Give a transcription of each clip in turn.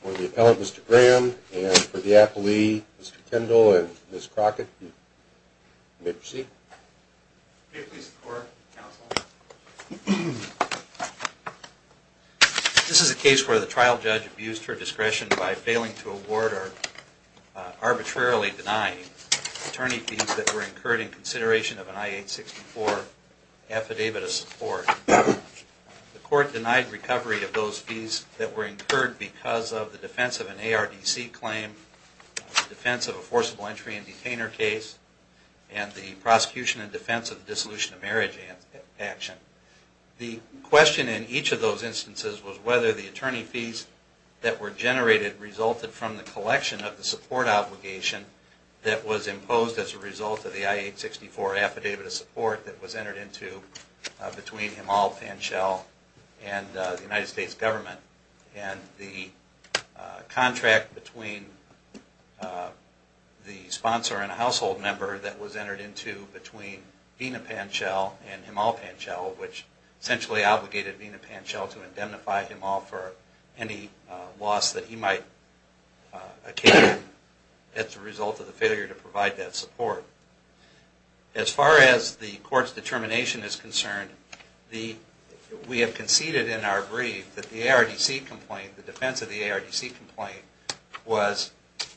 for the appellate, Mr. Graham, and for the appellee, Mr. Kendall, and Ms. Crockett, you may proceed. May it please the court, counsel. This is a case where the trial judge abused her discretion by failing to award or arbitrarily denying attorney fees that were incurred in consideration of an I-864 affidavit of support. The court denied recovery of those fees that were incurred because of the defense of an ARDC claim, the defense of a forcible entry and detainer case, and the prosecution and defense of the dissolution of marriage action. The question in each of those instances was whether the attorney fees that were entered into between Himal Panchal and the United States government and the contract between the sponsor and a household member that was entered into between Vena Panchal and Himal Panchal, which essentially obligated Vena Panchal to indemnify Himal for any loss that he might occasion as a result of the failure to provide that support. As far as the court's determination is concerned, we have conceded in our brief that the ARDC complaint, the defense of the ARDC complaint, was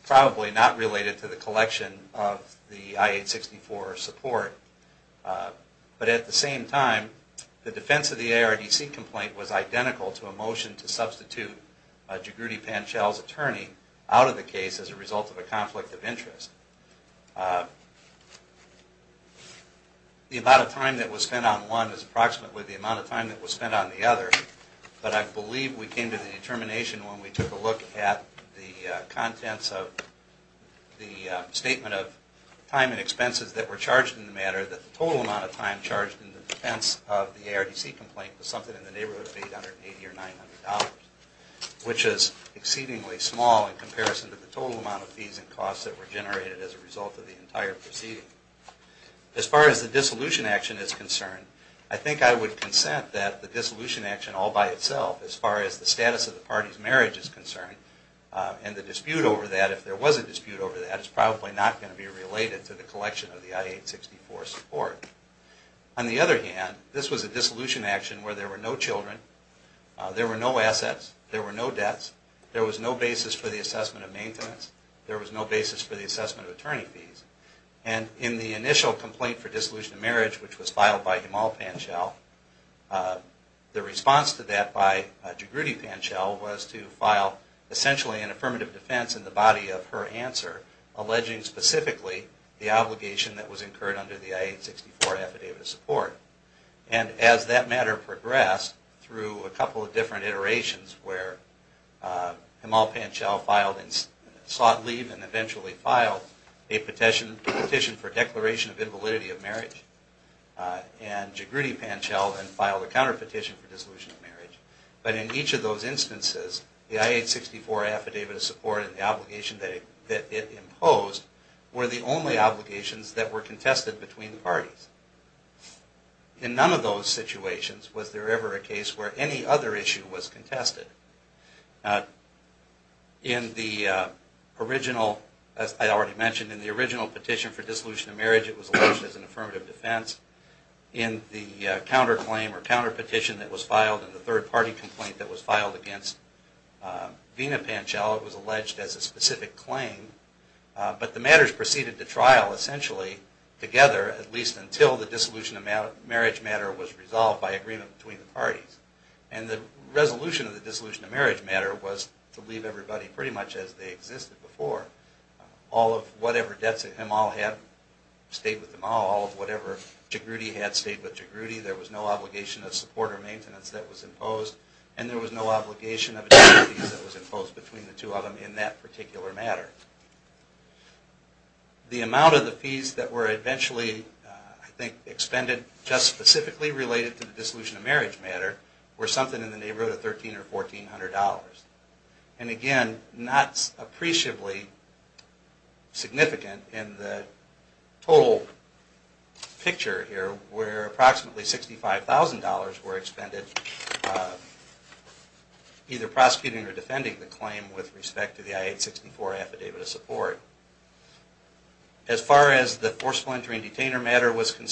probably not related to the collection of the I-864 support. But at the same time, the defense of the ARDC complaint was identical to a motion to substitute Jagruti Panchal's attorney out of the case as a result of a The amount of time that was spent on one is approximately the amount of time that was spent on the other, but I believe we came to the determination when we took a look at the contents of the statement of time and expenses that were charged in the matter that the total amount of time charged in the defense of the ARDC complaint was something in comparison to the total amount of fees and costs that were generated as a result of the entire proceeding. As far as the dissolution action is concerned, I think I would consent that the dissolution action all by itself, as far as the status of the party's marriage is concerned, and the dispute over that, if there was a dispute over that, is probably not going to be assessment of maintenance. There was no basis for the assessment of attorney fees. And in the initial complaint for dissolution of marriage, which was filed by Himal Panchal, the response to that by Jagruti Panchal was to file essentially an affirmative defense in the body of her answer, alleging specifically the obligation that was imposed on her. Himal Panchal filed and sought leave and eventually filed a petition for declaration of invalidity of marriage. And Jagruti Panchal then filed a counterpetition for dissolution of marriage. But in each of those instances, the I-864 Affidavit of Support and the obligation that it imposed were the only obligations that were contested between the parties. In none of those situations was there ever a case where any other issue was contested. In the original, as I already mentioned, in the original petition for dissolution of marriage, it was alleged as an affirmative defense. In the counterclaim or counterpetition that was filed in the third party complaint that was filed against Veena Panchal, it was dissolution of marriage matter was resolved by agreement between the parties. And the resolution of the dissolution of marriage matter was to leave everybody pretty much as they existed before. All of whatever debts that Himal had stayed with Himal. All of whatever Jagruti had stayed with Jagruti. There was no obligation of support or maintenance that was imposed. And there was no obligation of indemnities that was imposed between the two of them in that particular matter. The amount of the fees that were eventually, I think, expended just specifically related to the dissolution of marriage matter were something in the neighborhood of $1,300 or $1,400. And again, not appreciably significant in the total picture here where approximately $65,000 were expended either prosecuting or defending the claim with respect to the I-864 affidavit of support. As far as the forceful entry and detainer matter was Himal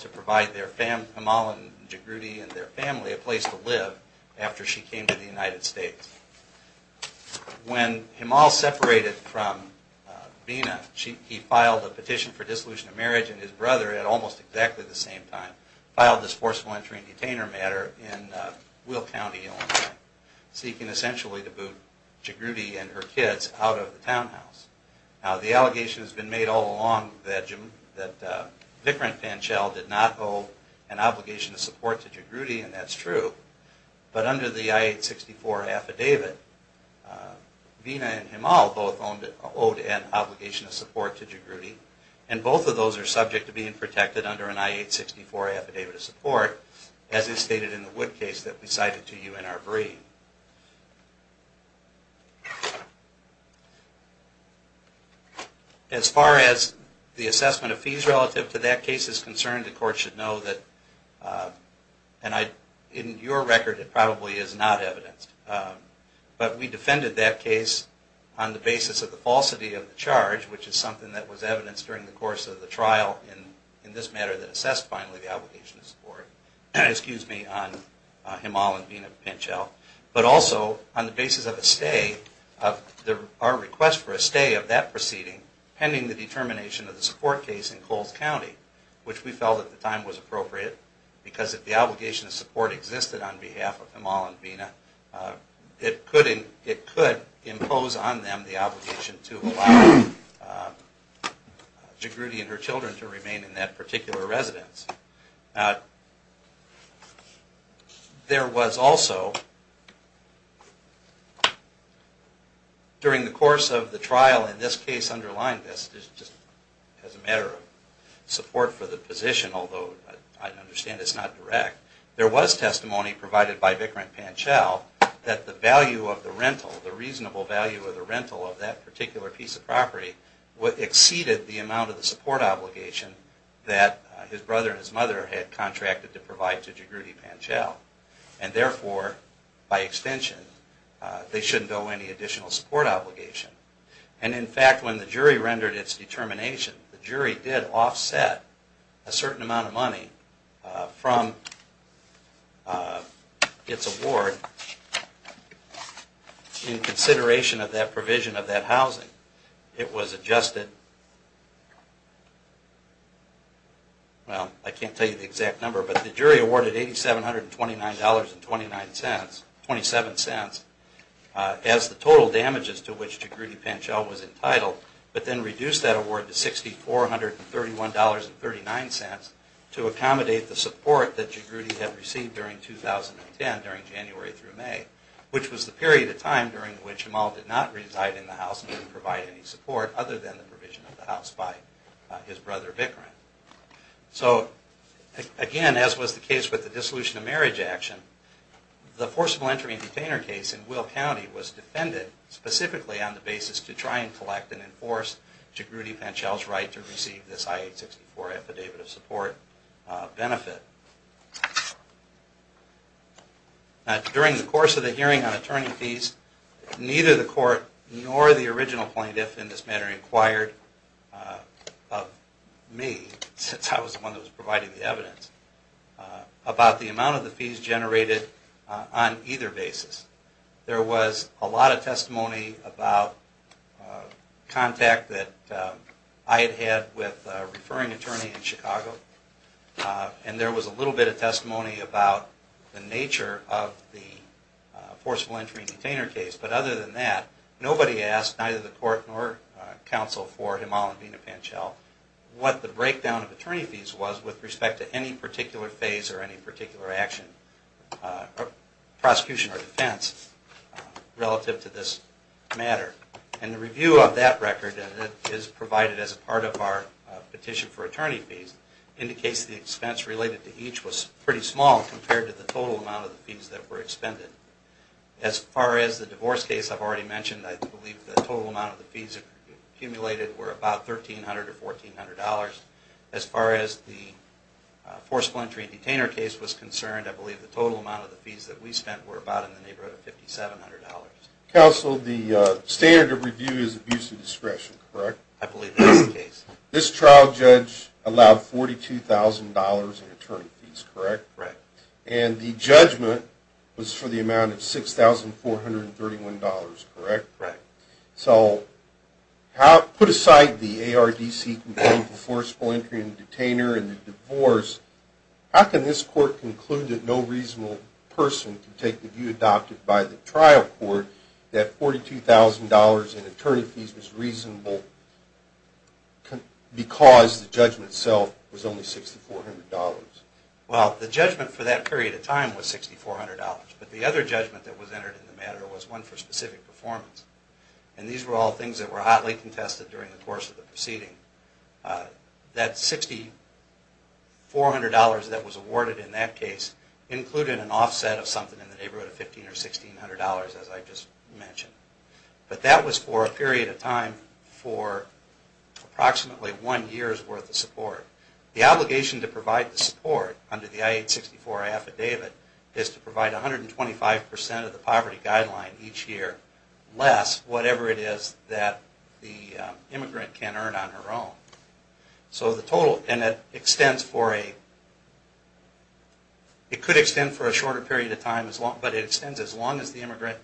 to provide Himal and Jagruti and their family a place to live after she came to the United States. When Himal separated from Veena, he filed a petition for dissolution of marriage and his brother at almost exactly the same time filed this forceful entry and detainer matter in Will County, Illinois. Seeking essentially to boot Jagruti and her kids out of the townhouse. Now, the allegation has been made all along that Vicarant Panchel did not owe an obligation of support to Jagruti and that's true. But under the I-864 affidavit, Veena and Himal both owed an obligation of support to Jagruti and both of those are subject to being protected under an I-864 affidavit of support as is stated in the Wood case that we cited to you in our basis of the falsity of the charge, which is something that was evidenced during the course of the trial in this matter that assessed finally the obligation of support on Himal and Veena Panchel. But also on the basis of a stay, our request for a stay of that proceeding pending the determination of the support case in Coles County, which we felt at the time was an obligation to allow Jagruti and her children to remain in that particular residence. Now, there was also, during the course of the trial in this case underlying this, just as a matter of support for the position, although I understand it's not direct, there was testimony provided by Vicarant Panchel that the value of the rental, the reasonable value of the rental of that particular piece of property exceeded the amount of the support obligation that his brother and his mother had contracted to provide to Jagruti Panchel. And therefore, by extension, they shouldn't owe any additional support obligation. And in fact, when the jury rendered its determination, the jury did offset a certain amount of money from its award in consideration of that provision of that housing. It was adjusted, well, I can't tell you the exact number, but the jury awarded $8,729.29 as the total damages to which Jagruti and her children were liable. was entitled, but then reduced that award to $6,431.39 to accommodate the support that Jagruti had received during 2010, during January through May, which was the period of time during which Jamal did not reside in the house and didn't provide any support other than the provision of the house by his brother Vicarant. So, again, as was the case with the dissolution of marriage action, the forcible entry and detainer case in Will County was defended specifically on the basis to try and collect and enforce Jagruti Panchel's right to receive this I-864 affidavit of support benefit. During the course of the hearing on attorney fees, neither the court nor the original plaintiff in this matter inquired of me, since I was the one that was providing the evidence, about the amount of the fees generated on either basis. There was a lot of testimony about contact that I had had with a referring attorney in Chicago, and there was a little bit of testimony about the nature of the forcible entry and detainer case. But other than that, nobody asked, neither the court nor counsel for Jamal and Vina Panchel, what the breakdown of attorney fees was with respect to any particular phase or any particular action, prosecution or defense, relative to this matter. And the review of that record, and it is provided as a part of our petition for attorney fees, indicates the expense related to each was pretty small compared to the total amount of the fees that were expended. As far as the divorce case I've already mentioned, I believe the total amount of the fees accumulated were about $1,300 or $1,400. As far as the forcible entry and detainer case was concerned, I believe the total amount of the fees that we spent were about in the neighborhood of $5,700. Counsel, the standard of review is abuse of discretion, correct? I believe that is the case. This trial judge allowed $42,000 in attorney fees, correct? Correct. And the judgment was for the amount of $6,431, correct? Correct. So put aside the ARDC complaint for forcible entry and detainer and the divorce, how can this court conclude that no reasonable person can take the view adopted by the trial court that $42,000 in attorney fees was reasonable because the judgment itself was only $6,400? Well, the judgment for that period of time was $6,400, but the other judgment that was entered in the matter was one for specific performance. And these were all things that were hotly contested during the course of the proceeding. That $6,400 that was awarded in that case included an offset of something in the neighborhood of $1,500 or $1,600, as I just mentioned. But that was for a period of time for approximately one year's worth of support. The obligation to provide the support under the I-864 affidavit is to provide 125% of the poverty guideline each year less whatever it is that the immigrant can earn on her own. So the total, and it extends for a, it could extend for a shorter period of time, but it extends as long as the immigrant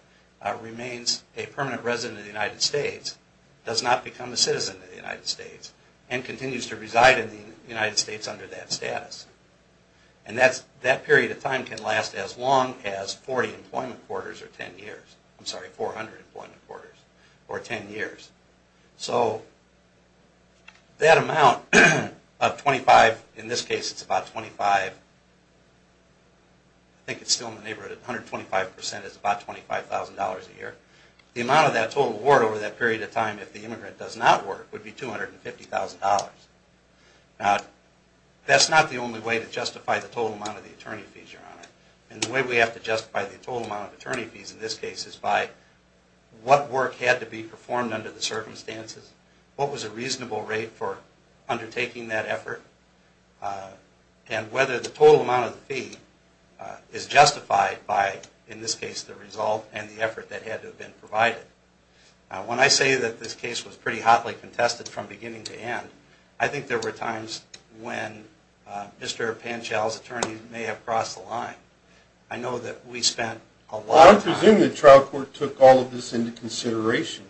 remains a permanent resident of the United States, does not become a citizen of the United States, and continues to reside in the United States under that status. And that period of time can last as long as 40 employment quarters or 10 years. I'm sorry, 400 employment quarters or 10 years. So that amount of 25, in this case it's about 25, I think it's still in the neighborhood of 125%, is about $25,000 a year. The amount of that total award over that period of time if the immigrant does not work would be $250,000. Now, that's not the only way to justify the total amount of the attorney fees you're on. And the way we have to justify the total amount of attorney fees in this case is by what work had to be performed under the circumstances, what was a reasonable rate for undertaking that effort, and whether the total amount of the fee is justified by, in this case, the result and the effort that had to have been provided. Now, when I say that this case was pretty hotly contested from beginning to end, I think there were times when Mr. Panchal's attorney may have crossed the line. I know that we spent a lot of time... Well, I presume the trial court took all of this into consideration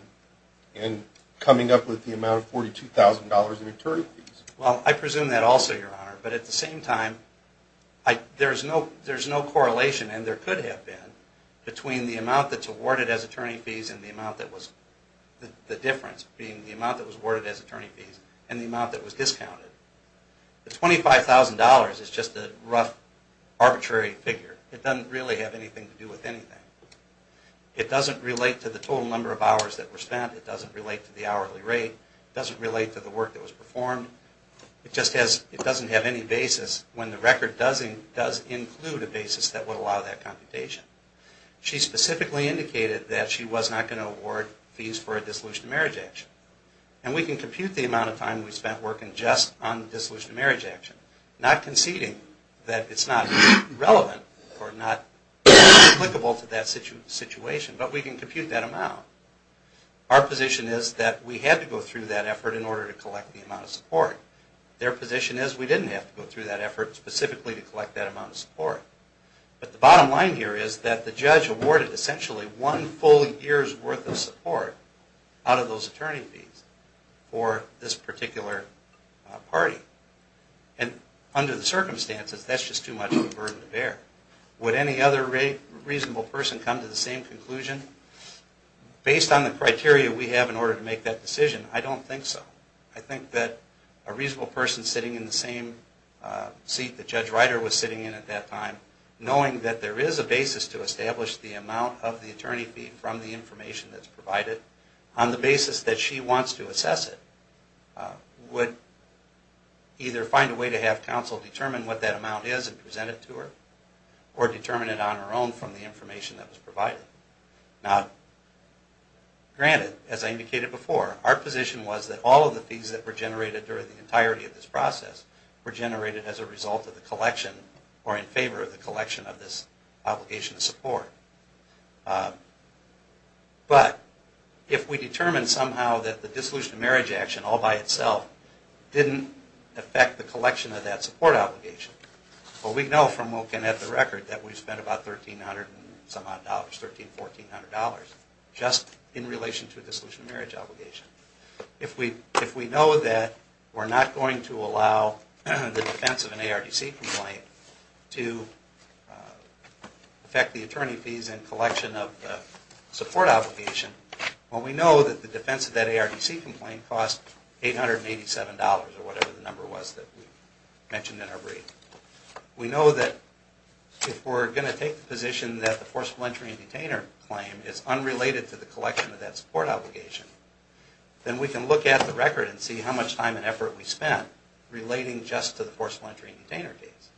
in coming up with the amount of $42,000 in attorney fees. Well, I presume that also, Your Honor. But at the same time, there's no correlation, and there could have been, between the amount that's awarded as attorney fees and the amount that was... the difference being the amount that was awarded as attorney fees and the amount that was discounted. The $25,000 is just a rough, arbitrary figure. It doesn't really have anything to do with anything. It doesn't relate to the total number of hours that were spent. It doesn't relate to the hourly rate. It doesn't relate to the work that was performed. It just doesn't have any basis when the record does include a basis that would allow that computation. She specifically indicated that she was not going to award fees for a dissolution of marriage action. And we can compute the amount of time we spent working just on the dissolution of marriage action. Not conceding that it's not relevant or not applicable to that situation, but we can compute that amount. Our position is that we had to go through that effort in order to collect the amount of support. Their position is we didn't have to go through that effort specifically to collect that amount of support. But the bottom line here is that the judge awarded essentially one full year's worth of support out of those attorney fees for this particular party. And under the circumstances, that's just too much of a burden to bear. Would any other reasonable person come to the same conclusion? Based on the criteria we have in order to make that decision, I don't think so. I think that a reasonable person sitting in the same seat that Judge Ryder was sitting in at that time, knowing that there is a basis to establish the amount of the attorney fee from the information that's provided, on the basis that she wants to assess it, would either find a way to have counsel determine what that amount is and present it to her, or determine it on her own from the information that was provided. Now, granted, as I indicated before, our position was that all of the fees that were generated during the entirety of this process were generated as a result of the collection or in favor of the collection of this obligation of support. But if we determine somehow that the dissolution of marriage action all by itself didn't affect the collection of that support obligation, well, we know from looking at the record that we've spent about $1,300 and some odd dollars, $1,300, $1,400, just in relation to the dissolution of marriage obligation. If we know that we're not going to allow the defense of an ARDC complaint to affect the attorney fees and collection of the support obligation, well, we know that the defense of that ARDC complaint cost $887 or whatever the number was that we mentioned in our brief. We know that if we're going to take the position that the forceful entry and detainer claim is unrelated to the collection of that support obligation, then we can look at the record and see how much time and effort we spent relating just to the forceful entry and detainer case.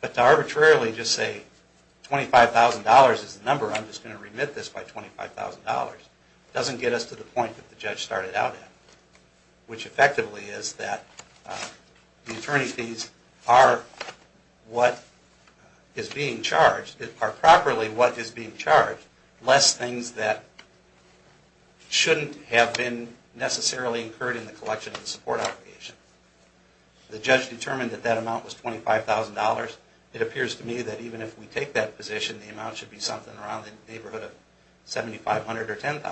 But to arbitrarily just say $25,000 is the number, I'm just going to remit this by $25,000, doesn't get us to the point that the judge started out at, which effectively is that the attorney fees are what is being charged, are properly what is being charged, less things that shouldn't have been necessarily incurred in the collection of the support obligation. The judge determined that that amount was $25,000. It appears to me that even if we take that position, the amount should be something around the neighborhood of $7,500 or $10,000.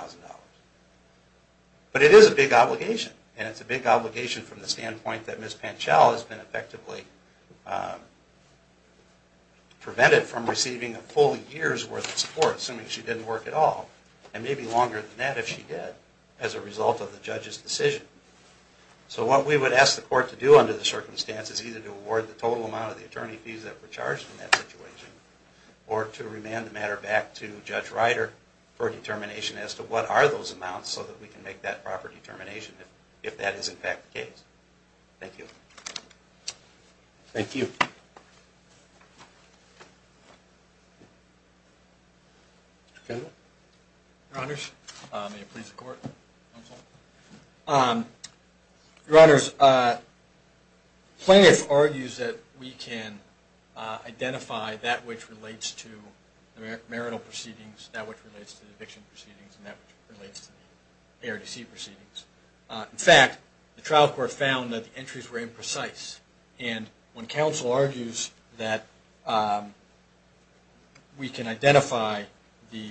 But it is a big obligation, and it's a big obligation from the standpoint that Ms. Panchal has been effectively prevented from receiving a full year's worth of support, assuming she didn't work at all, and maybe longer than that if she did, as a result of the judge's decision. So what we would ask the court to do under the circumstances is either to award the total amount of the attorney fees that were charged in that situation, or to remand the matter back to Judge Ryder for determination as to what are those amounts so that we can make that proper determination, if that is in fact the case. Thank you. Thank you. Your Honors, may it please the Court? Your Honors, plaintiff argues that we can identify that which relates to the marital proceedings, that which relates to the eviction proceedings, and that which relates to the ARDC proceedings. In fact, the trial court found that the entries were imprecise, and when counsel argues that we can identify the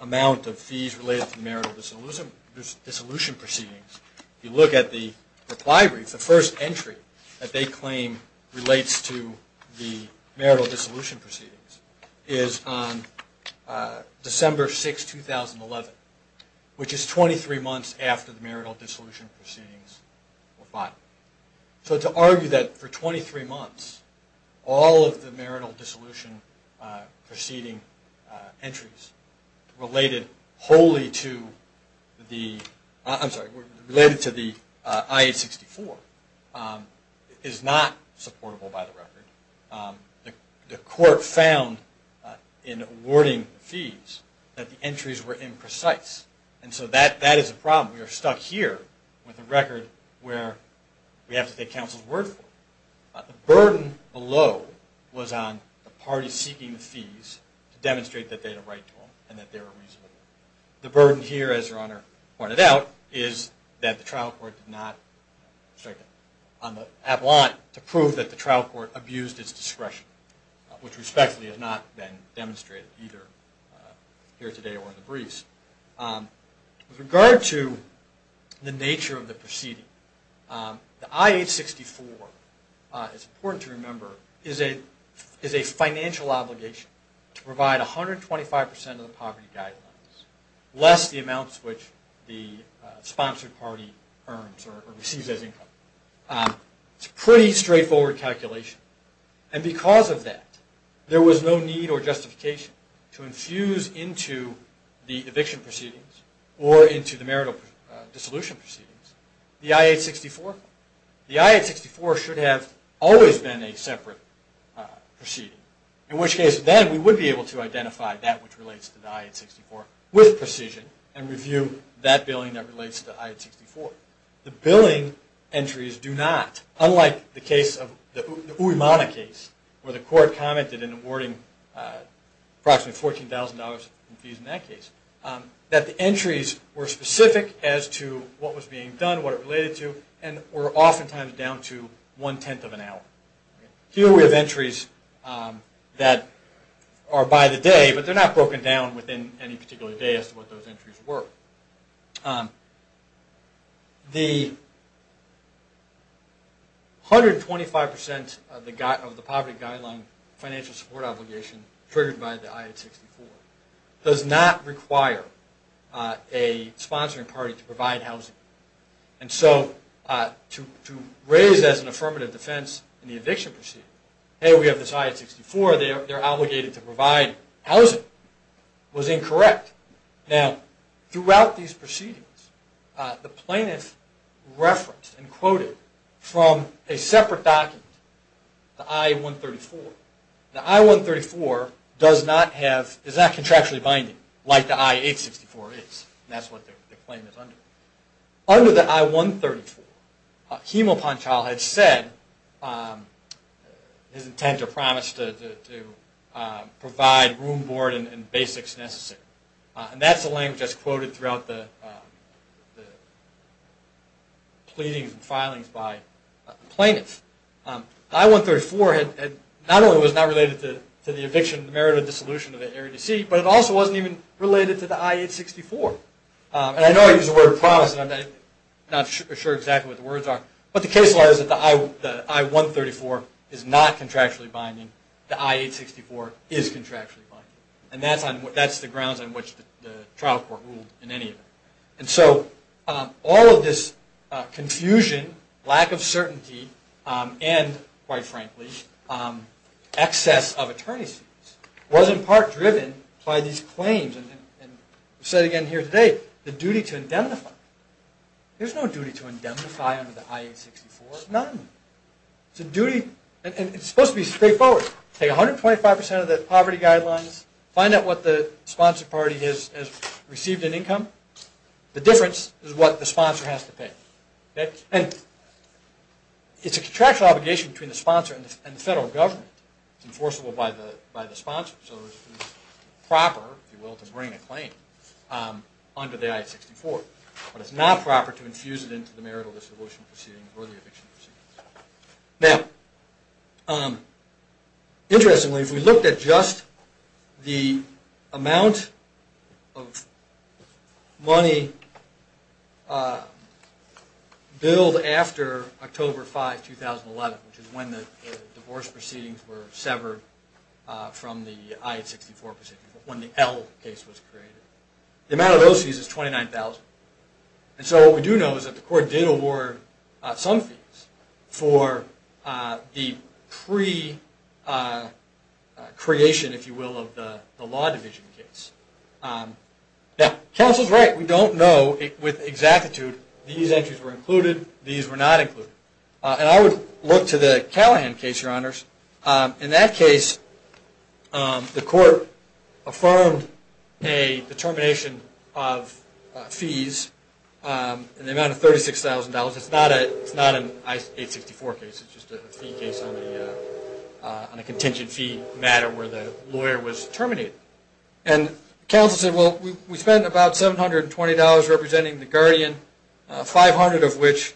amount of fees related to the marital disillusionment, if you look at the reply brief, the first entry that they claim relates to the marital disillusionment proceedings is on December 6, 2011, which is 23 months after the marital disillusionment proceedings were filed. So to argue that for 23 months, all of the marital disillusionment proceeding entries related wholly to the marital disillusionment proceedings, I'm sorry, related to the I-864, is not supportable by the record. The court found in awarding fees that the entries were imprecise, and so that is a problem. We are stuck here with a record where we have to take counsel's word for it. The burden below was on the parties seeking the fees to demonstrate that they had a right to them and that they were reasonable. The burden here, as Your Honor pointed out, is that the trial court did not strike it on the avalanche to prove that the trial court abused its discretion, which respectfully has not been demonstrated either here today or in the briefs. With regard to the nature of the proceeding, the I-864, it's important to remember, is a financial obligation to provide 125% of the poverty guideline. Less the amounts which the sponsored party earns or receives as income. It's a pretty straightforward calculation, and because of that, there was no need or justification to infuse into the eviction proceedings or into the marital disillusion proceedings the I-864. The I-864 should have always been a separate proceeding, in which case then we would be able to identify that which relates to the I-864. The billing entries do not, unlike the case of the Uemana case, where the court commented in awarding approximately $14,000 in fees in that case, that the entries were specific as to what was being done, what it related to, and were oftentimes down to one-tenth of an hour. Here we have entries that are by the day, but they're not broken down within any particular day. The 125% of the poverty guideline financial support obligation triggered by the I-864 does not require a sponsoring party to provide housing. To raise as an affirmative defense in the eviction proceeding, hey, we have this I-864, they're obligated to provide housing, was incorrect. Now, throughout these proceedings, the plaintiff referenced and quoted from a separate document, the I-134. The I-134 is not contractually binding, like the I-864 is, and that's what the claim is under. Under the I-134, Hemal Panchal had said his intent or promise to provide room, board, and basics necessary. And that's the language that's quoted throughout the pleadings and filings by the plaintiffs. The I-134 not only was not related to the eviction, the merit of dissolution of the ARDC, but it also wasn't even related to the I-864. And I know I use the word promise, and I'm not sure exactly what the words are, but the case law is that the I-134 is not contractually binding, the I-864 is contractually binding. And that's the grounds on which the trial court ruled in any event. And so, all of this confusion, lack of certainty, and, quite frankly, excess of attorney's fees, was in part driven by these claims. And I've said it again here today, the duty to indemnify. There's no duty to indemnify under the I-864, none. It's supposed to be straightforward. Take 125% of the poverty guidelines, find out what the sponsor party has received in income. The difference is what the sponsor has to pay. And it's a contractual obligation between the sponsor and the federal government. It's enforceable by the sponsor, so it's proper, if you will, to bring a claim under the I-864. But it's not proper to infuse it into the marital disavowal proceedings or the eviction proceedings. Now, interestingly, if we looked at just the amount of money billed after October 5, 2011, which is when the divorce proceedings were severed from the I-864 proceedings, when the L case was created. The amount of those fees is $29,000. And so what we do know is that the court did award some fees for the pre-creation, if you will, of the law division case. Now, counsel's right, we don't know with exactitude, these entries were included, these were not included. And I would look to the Callahan case, Your Honors. In that case, the court affirmed a determination of fees in the amount of $36,000. It's not an I-864 case, it's just a fee case on a contingent fee matter where the lawyer was terminated. And counsel said, well, we spent about $720 representing the guardian, 500 of which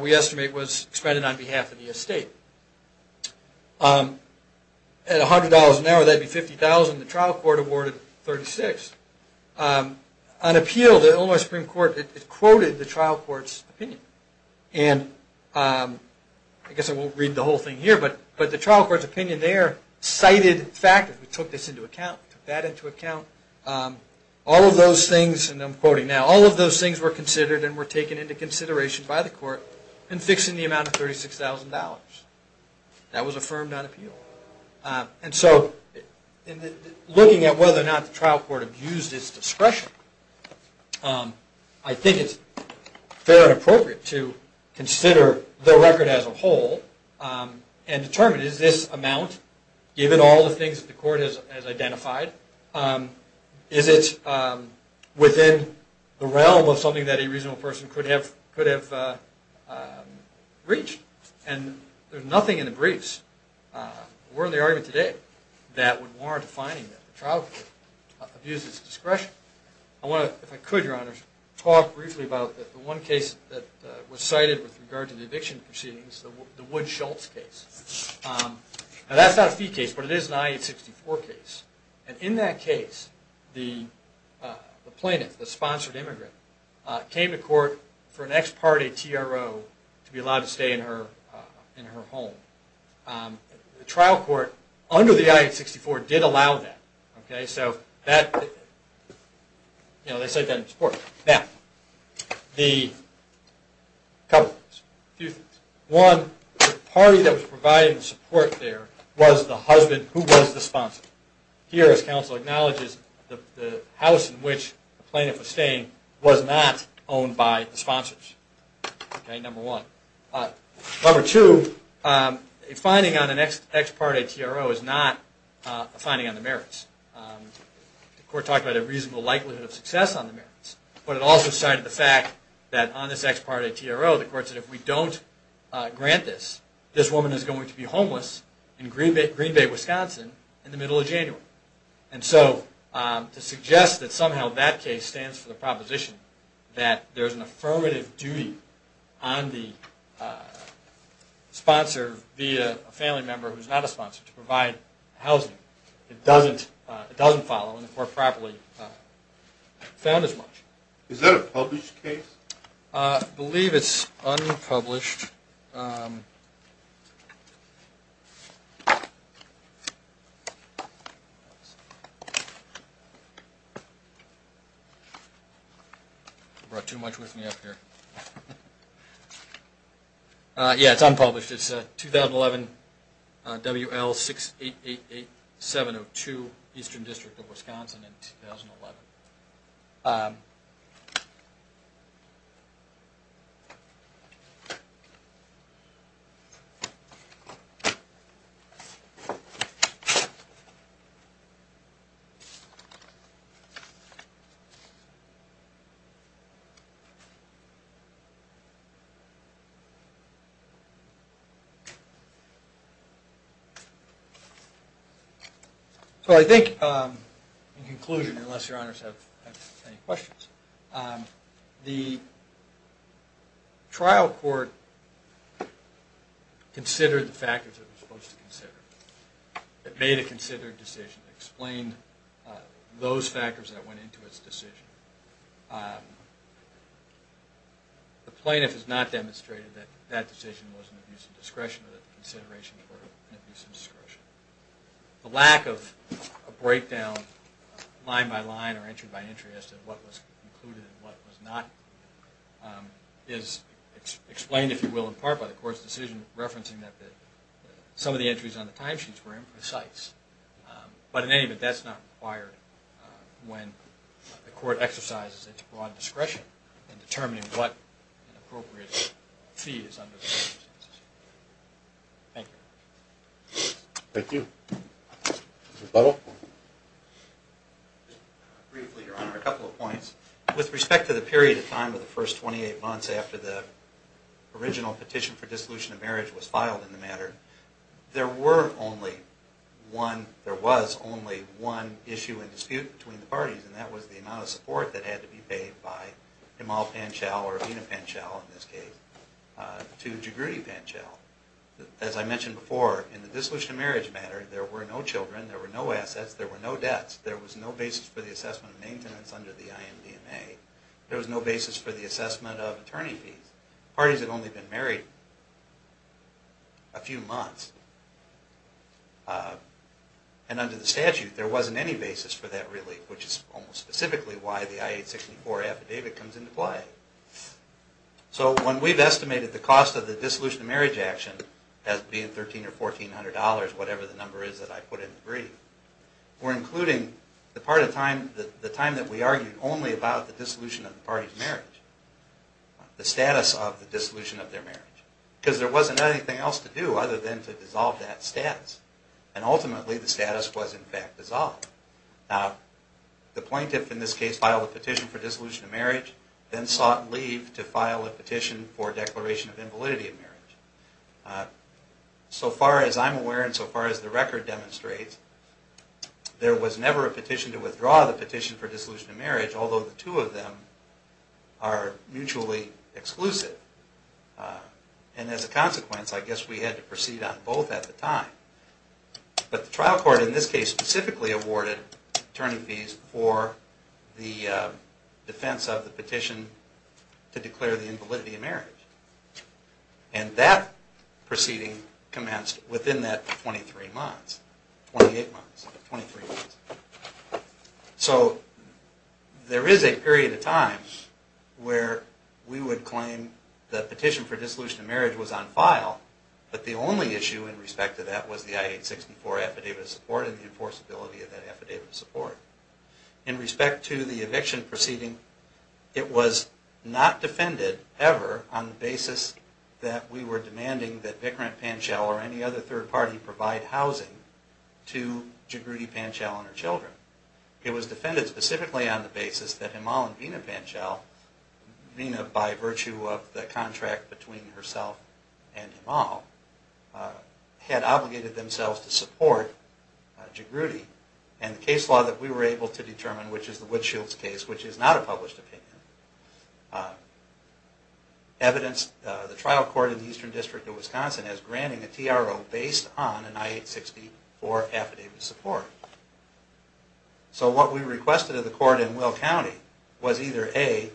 we estimate was expended on behalf of the estate. At $100 an hour, that would be $50,000, the trial court awarded $36,000. On appeal, the Illinois Supreme Court quoted the trial court's opinion. And I guess I won't read the whole thing here, but the trial court's opinion there cited factors. We took this into account, we took that into account. All of those things were considered and were taken into consideration by the court in fixing the amount of $36,000. That was affirmed on appeal. Looking at whether or not the trial court abused its discretion, I think it's fair and appropriate to consider the record as a whole and determine, is this amount, given all the things that the court has identified, is it within the realm of something that a reasonable person could have reached? And there's nothing in the briefs, or in the argument today, that would warrant defining that the trial court abused its discretion. I want to, if I could, Your Honors, talk briefly about the one case that was cited with regard to the eviction proceedings, the Wood-Schultz case. Now, that's not a fee case, but it is an I-864 case. And in that case, the plaintiff, the sponsored immigrant, came to court for an ex parte TRO to be allowed to stay in her home. The trial court, under the I-864, did allow that. They cite that in support. Now, a couple of things. One, the party that was providing support there was the husband who was the sponsor. Here, as counsel acknowledges, the house in which the plaintiff was staying was not owned by the sponsors. Number one. Number two, a finding on an ex parte TRO is not a finding on the merits. The court talked about a reasonable likelihood of success on the merits. But it also cited the fact that on this ex parte TRO, the court said, if we don't grant this, this woman is going to be homeless in Green Bay, Wisconsin, in the middle of January. And so, to suggest that somehow that case stands for the proposition that there's an affirmative duty on the sponsor via a family member who's not a sponsor to provide housing. It doesn't follow, and the court properly found as much. Is that a published case? I believe it's unpublished. Yeah, it's unpublished. It's a 2011 WL6888702, Eastern District of Wisconsin, in 2011. So, I think in conclusion, unless your honors have any questions. The trial court considered the factors it was supposed to consider. It made a considered decision, explained those factors that went into its decision. The plaintiff has not demonstrated that that decision was an abuse of discretion, or that the considerations were an abuse of discretion. The lack of a breakdown, line by line, or entry by entry, as to what was included and what was not included. Is explained, if you will, in part by the court's decision referencing that some of the entries on the timesheets were imprecise. But in any event, that's not required when the court exercises its broad discretion in determining what an appropriate fee is under the circumstances. Thank you. Thank you. Briefly, your honor, a couple of points. With respect to the period of time of the first 28 months after the original petition for dissolution of marriage was filed in the matter. There were only one, there was only one issue and dispute between the parties. And that was the amount of support that had to be paid by Imal Panchal, or Amina Panchal in this case, to Jagruti Panchal. As I mentioned before, in the dissolution of marriage matter, there were no children, there were no assets, there were no debts. There was no basis for the assessment of maintenance under the IMDMA. There was no basis for the assessment of attorney fees. Parties had only been married a few months. And under the statute, there wasn't any basis for that relief, which is almost specifically why the I-864 affidavit comes into play. So when we've estimated the cost of the dissolution of marriage action as being $1,300 or $1,400, whatever the number is that I put in the brief, we're including the part of time, the time that we argued only about the dissolution of the parties' marriage. The status of the dissolution of their marriage. Because there wasn't anything else to do other than to dissolve that status. And ultimately, the status was in fact dissolved. Now, the plaintiff in this case filed a petition for dissolution of marriage, then sought leave to file a petition for declaration of invalidity of marriage. So far as I'm aware and so far as the record demonstrates, there was never a petition to withdraw the petition for dissolution of marriage, although the two of them are mutually exclusive. And as a consequence, I guess we had to proceed on both at the time. But the trial court in this case specifically awarded attorney fees for the defense of the petition to declare the invalidity of marriage. And that proceeding commenced within that 23 months. Twenty-eight months. Twenty-three months. So there is a period of time where we would claim the petition for dissolution of marriage was on file, but the only issue in respect to that was the I-864 affidavit of support and the enforceability of that affidavit of support. In respect to the eviction proceeding, it was not defended ever on the basis that we were demanding that Vickrant, and her children, it was defended specifically on the basis that Himal and Veena Panchal, Veena by virtue of the contract between herself and Himal, had obligated themselves to support Jagruti. And the case law that we were able to determine, which is the Woodshields case, which is not a published opinion, evidenced the trial court in the Eastern District of Wisconsin as granting a TRO based on an I-864 affidavit of support. So what we requested of the court in Will County was either A,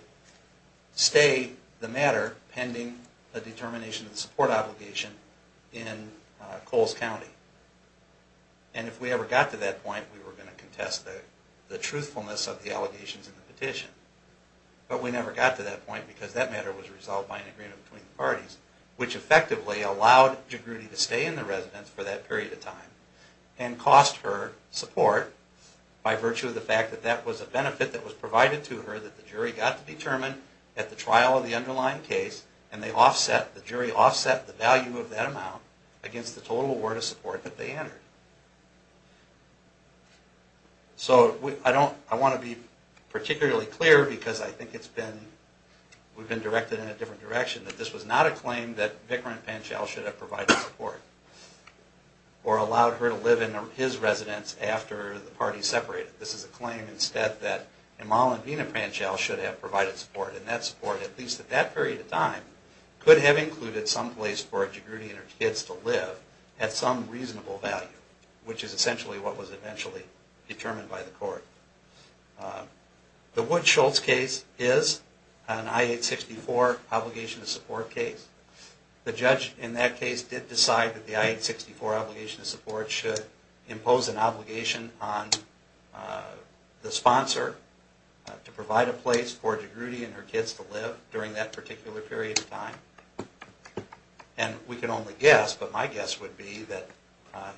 stay the matter pending the determination of the support obligation in Coles County. And if we ever got to that point, we were going to contest the truthfulness of the allegations in the petition. But we never got to that point because that matter was resolved by an agreement between the parties, which effectively allowed Jagruti to stay in the residence for that period of time and cost her support by virtue of the fact that that was a benefit that was provided to her that the jury got to determine at the trial of the underlying case, and the jury offset the value of that amount against the total award of support that they entered. So I want to be particularly clear because I think we've been directed in a different direction, that this was not a claim that Vikrant Panchal should have provided support or allowed her to live in his residence after the parties separated. This is a claim instead that Amal and Veena Panchal should have provided support, and that support, at least at that period of time, could have included some place for Jagruti and her kids to live at some reasonable value, which is essentially what was eventually determined by the court. The Wood-Schultz case is an I-864 obligation to support case. The judge in that case did decide that the I-864 obligation to support should impose an obligation on the sponsor to provide a place for Jagruti and her kids to live during that particular period of time. And we can only guess, but my guess would be that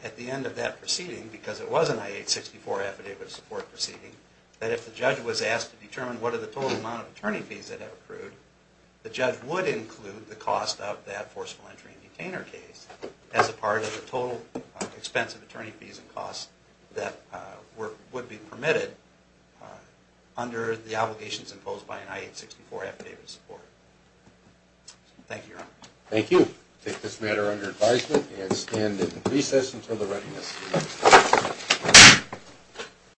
at the end of that proceeding, because it was an I-864 affidavit of support proceeding, that if the judge was asked to determine what are the total amount of attorney fees that have accrued, the judge would include the cost of that forceful entry and detainer case as a part of the total expense of attorney fees and costs that would be permitted under the obligations imposed by an I-864 affidavit of support. Thank you, Your Honor. Thank you.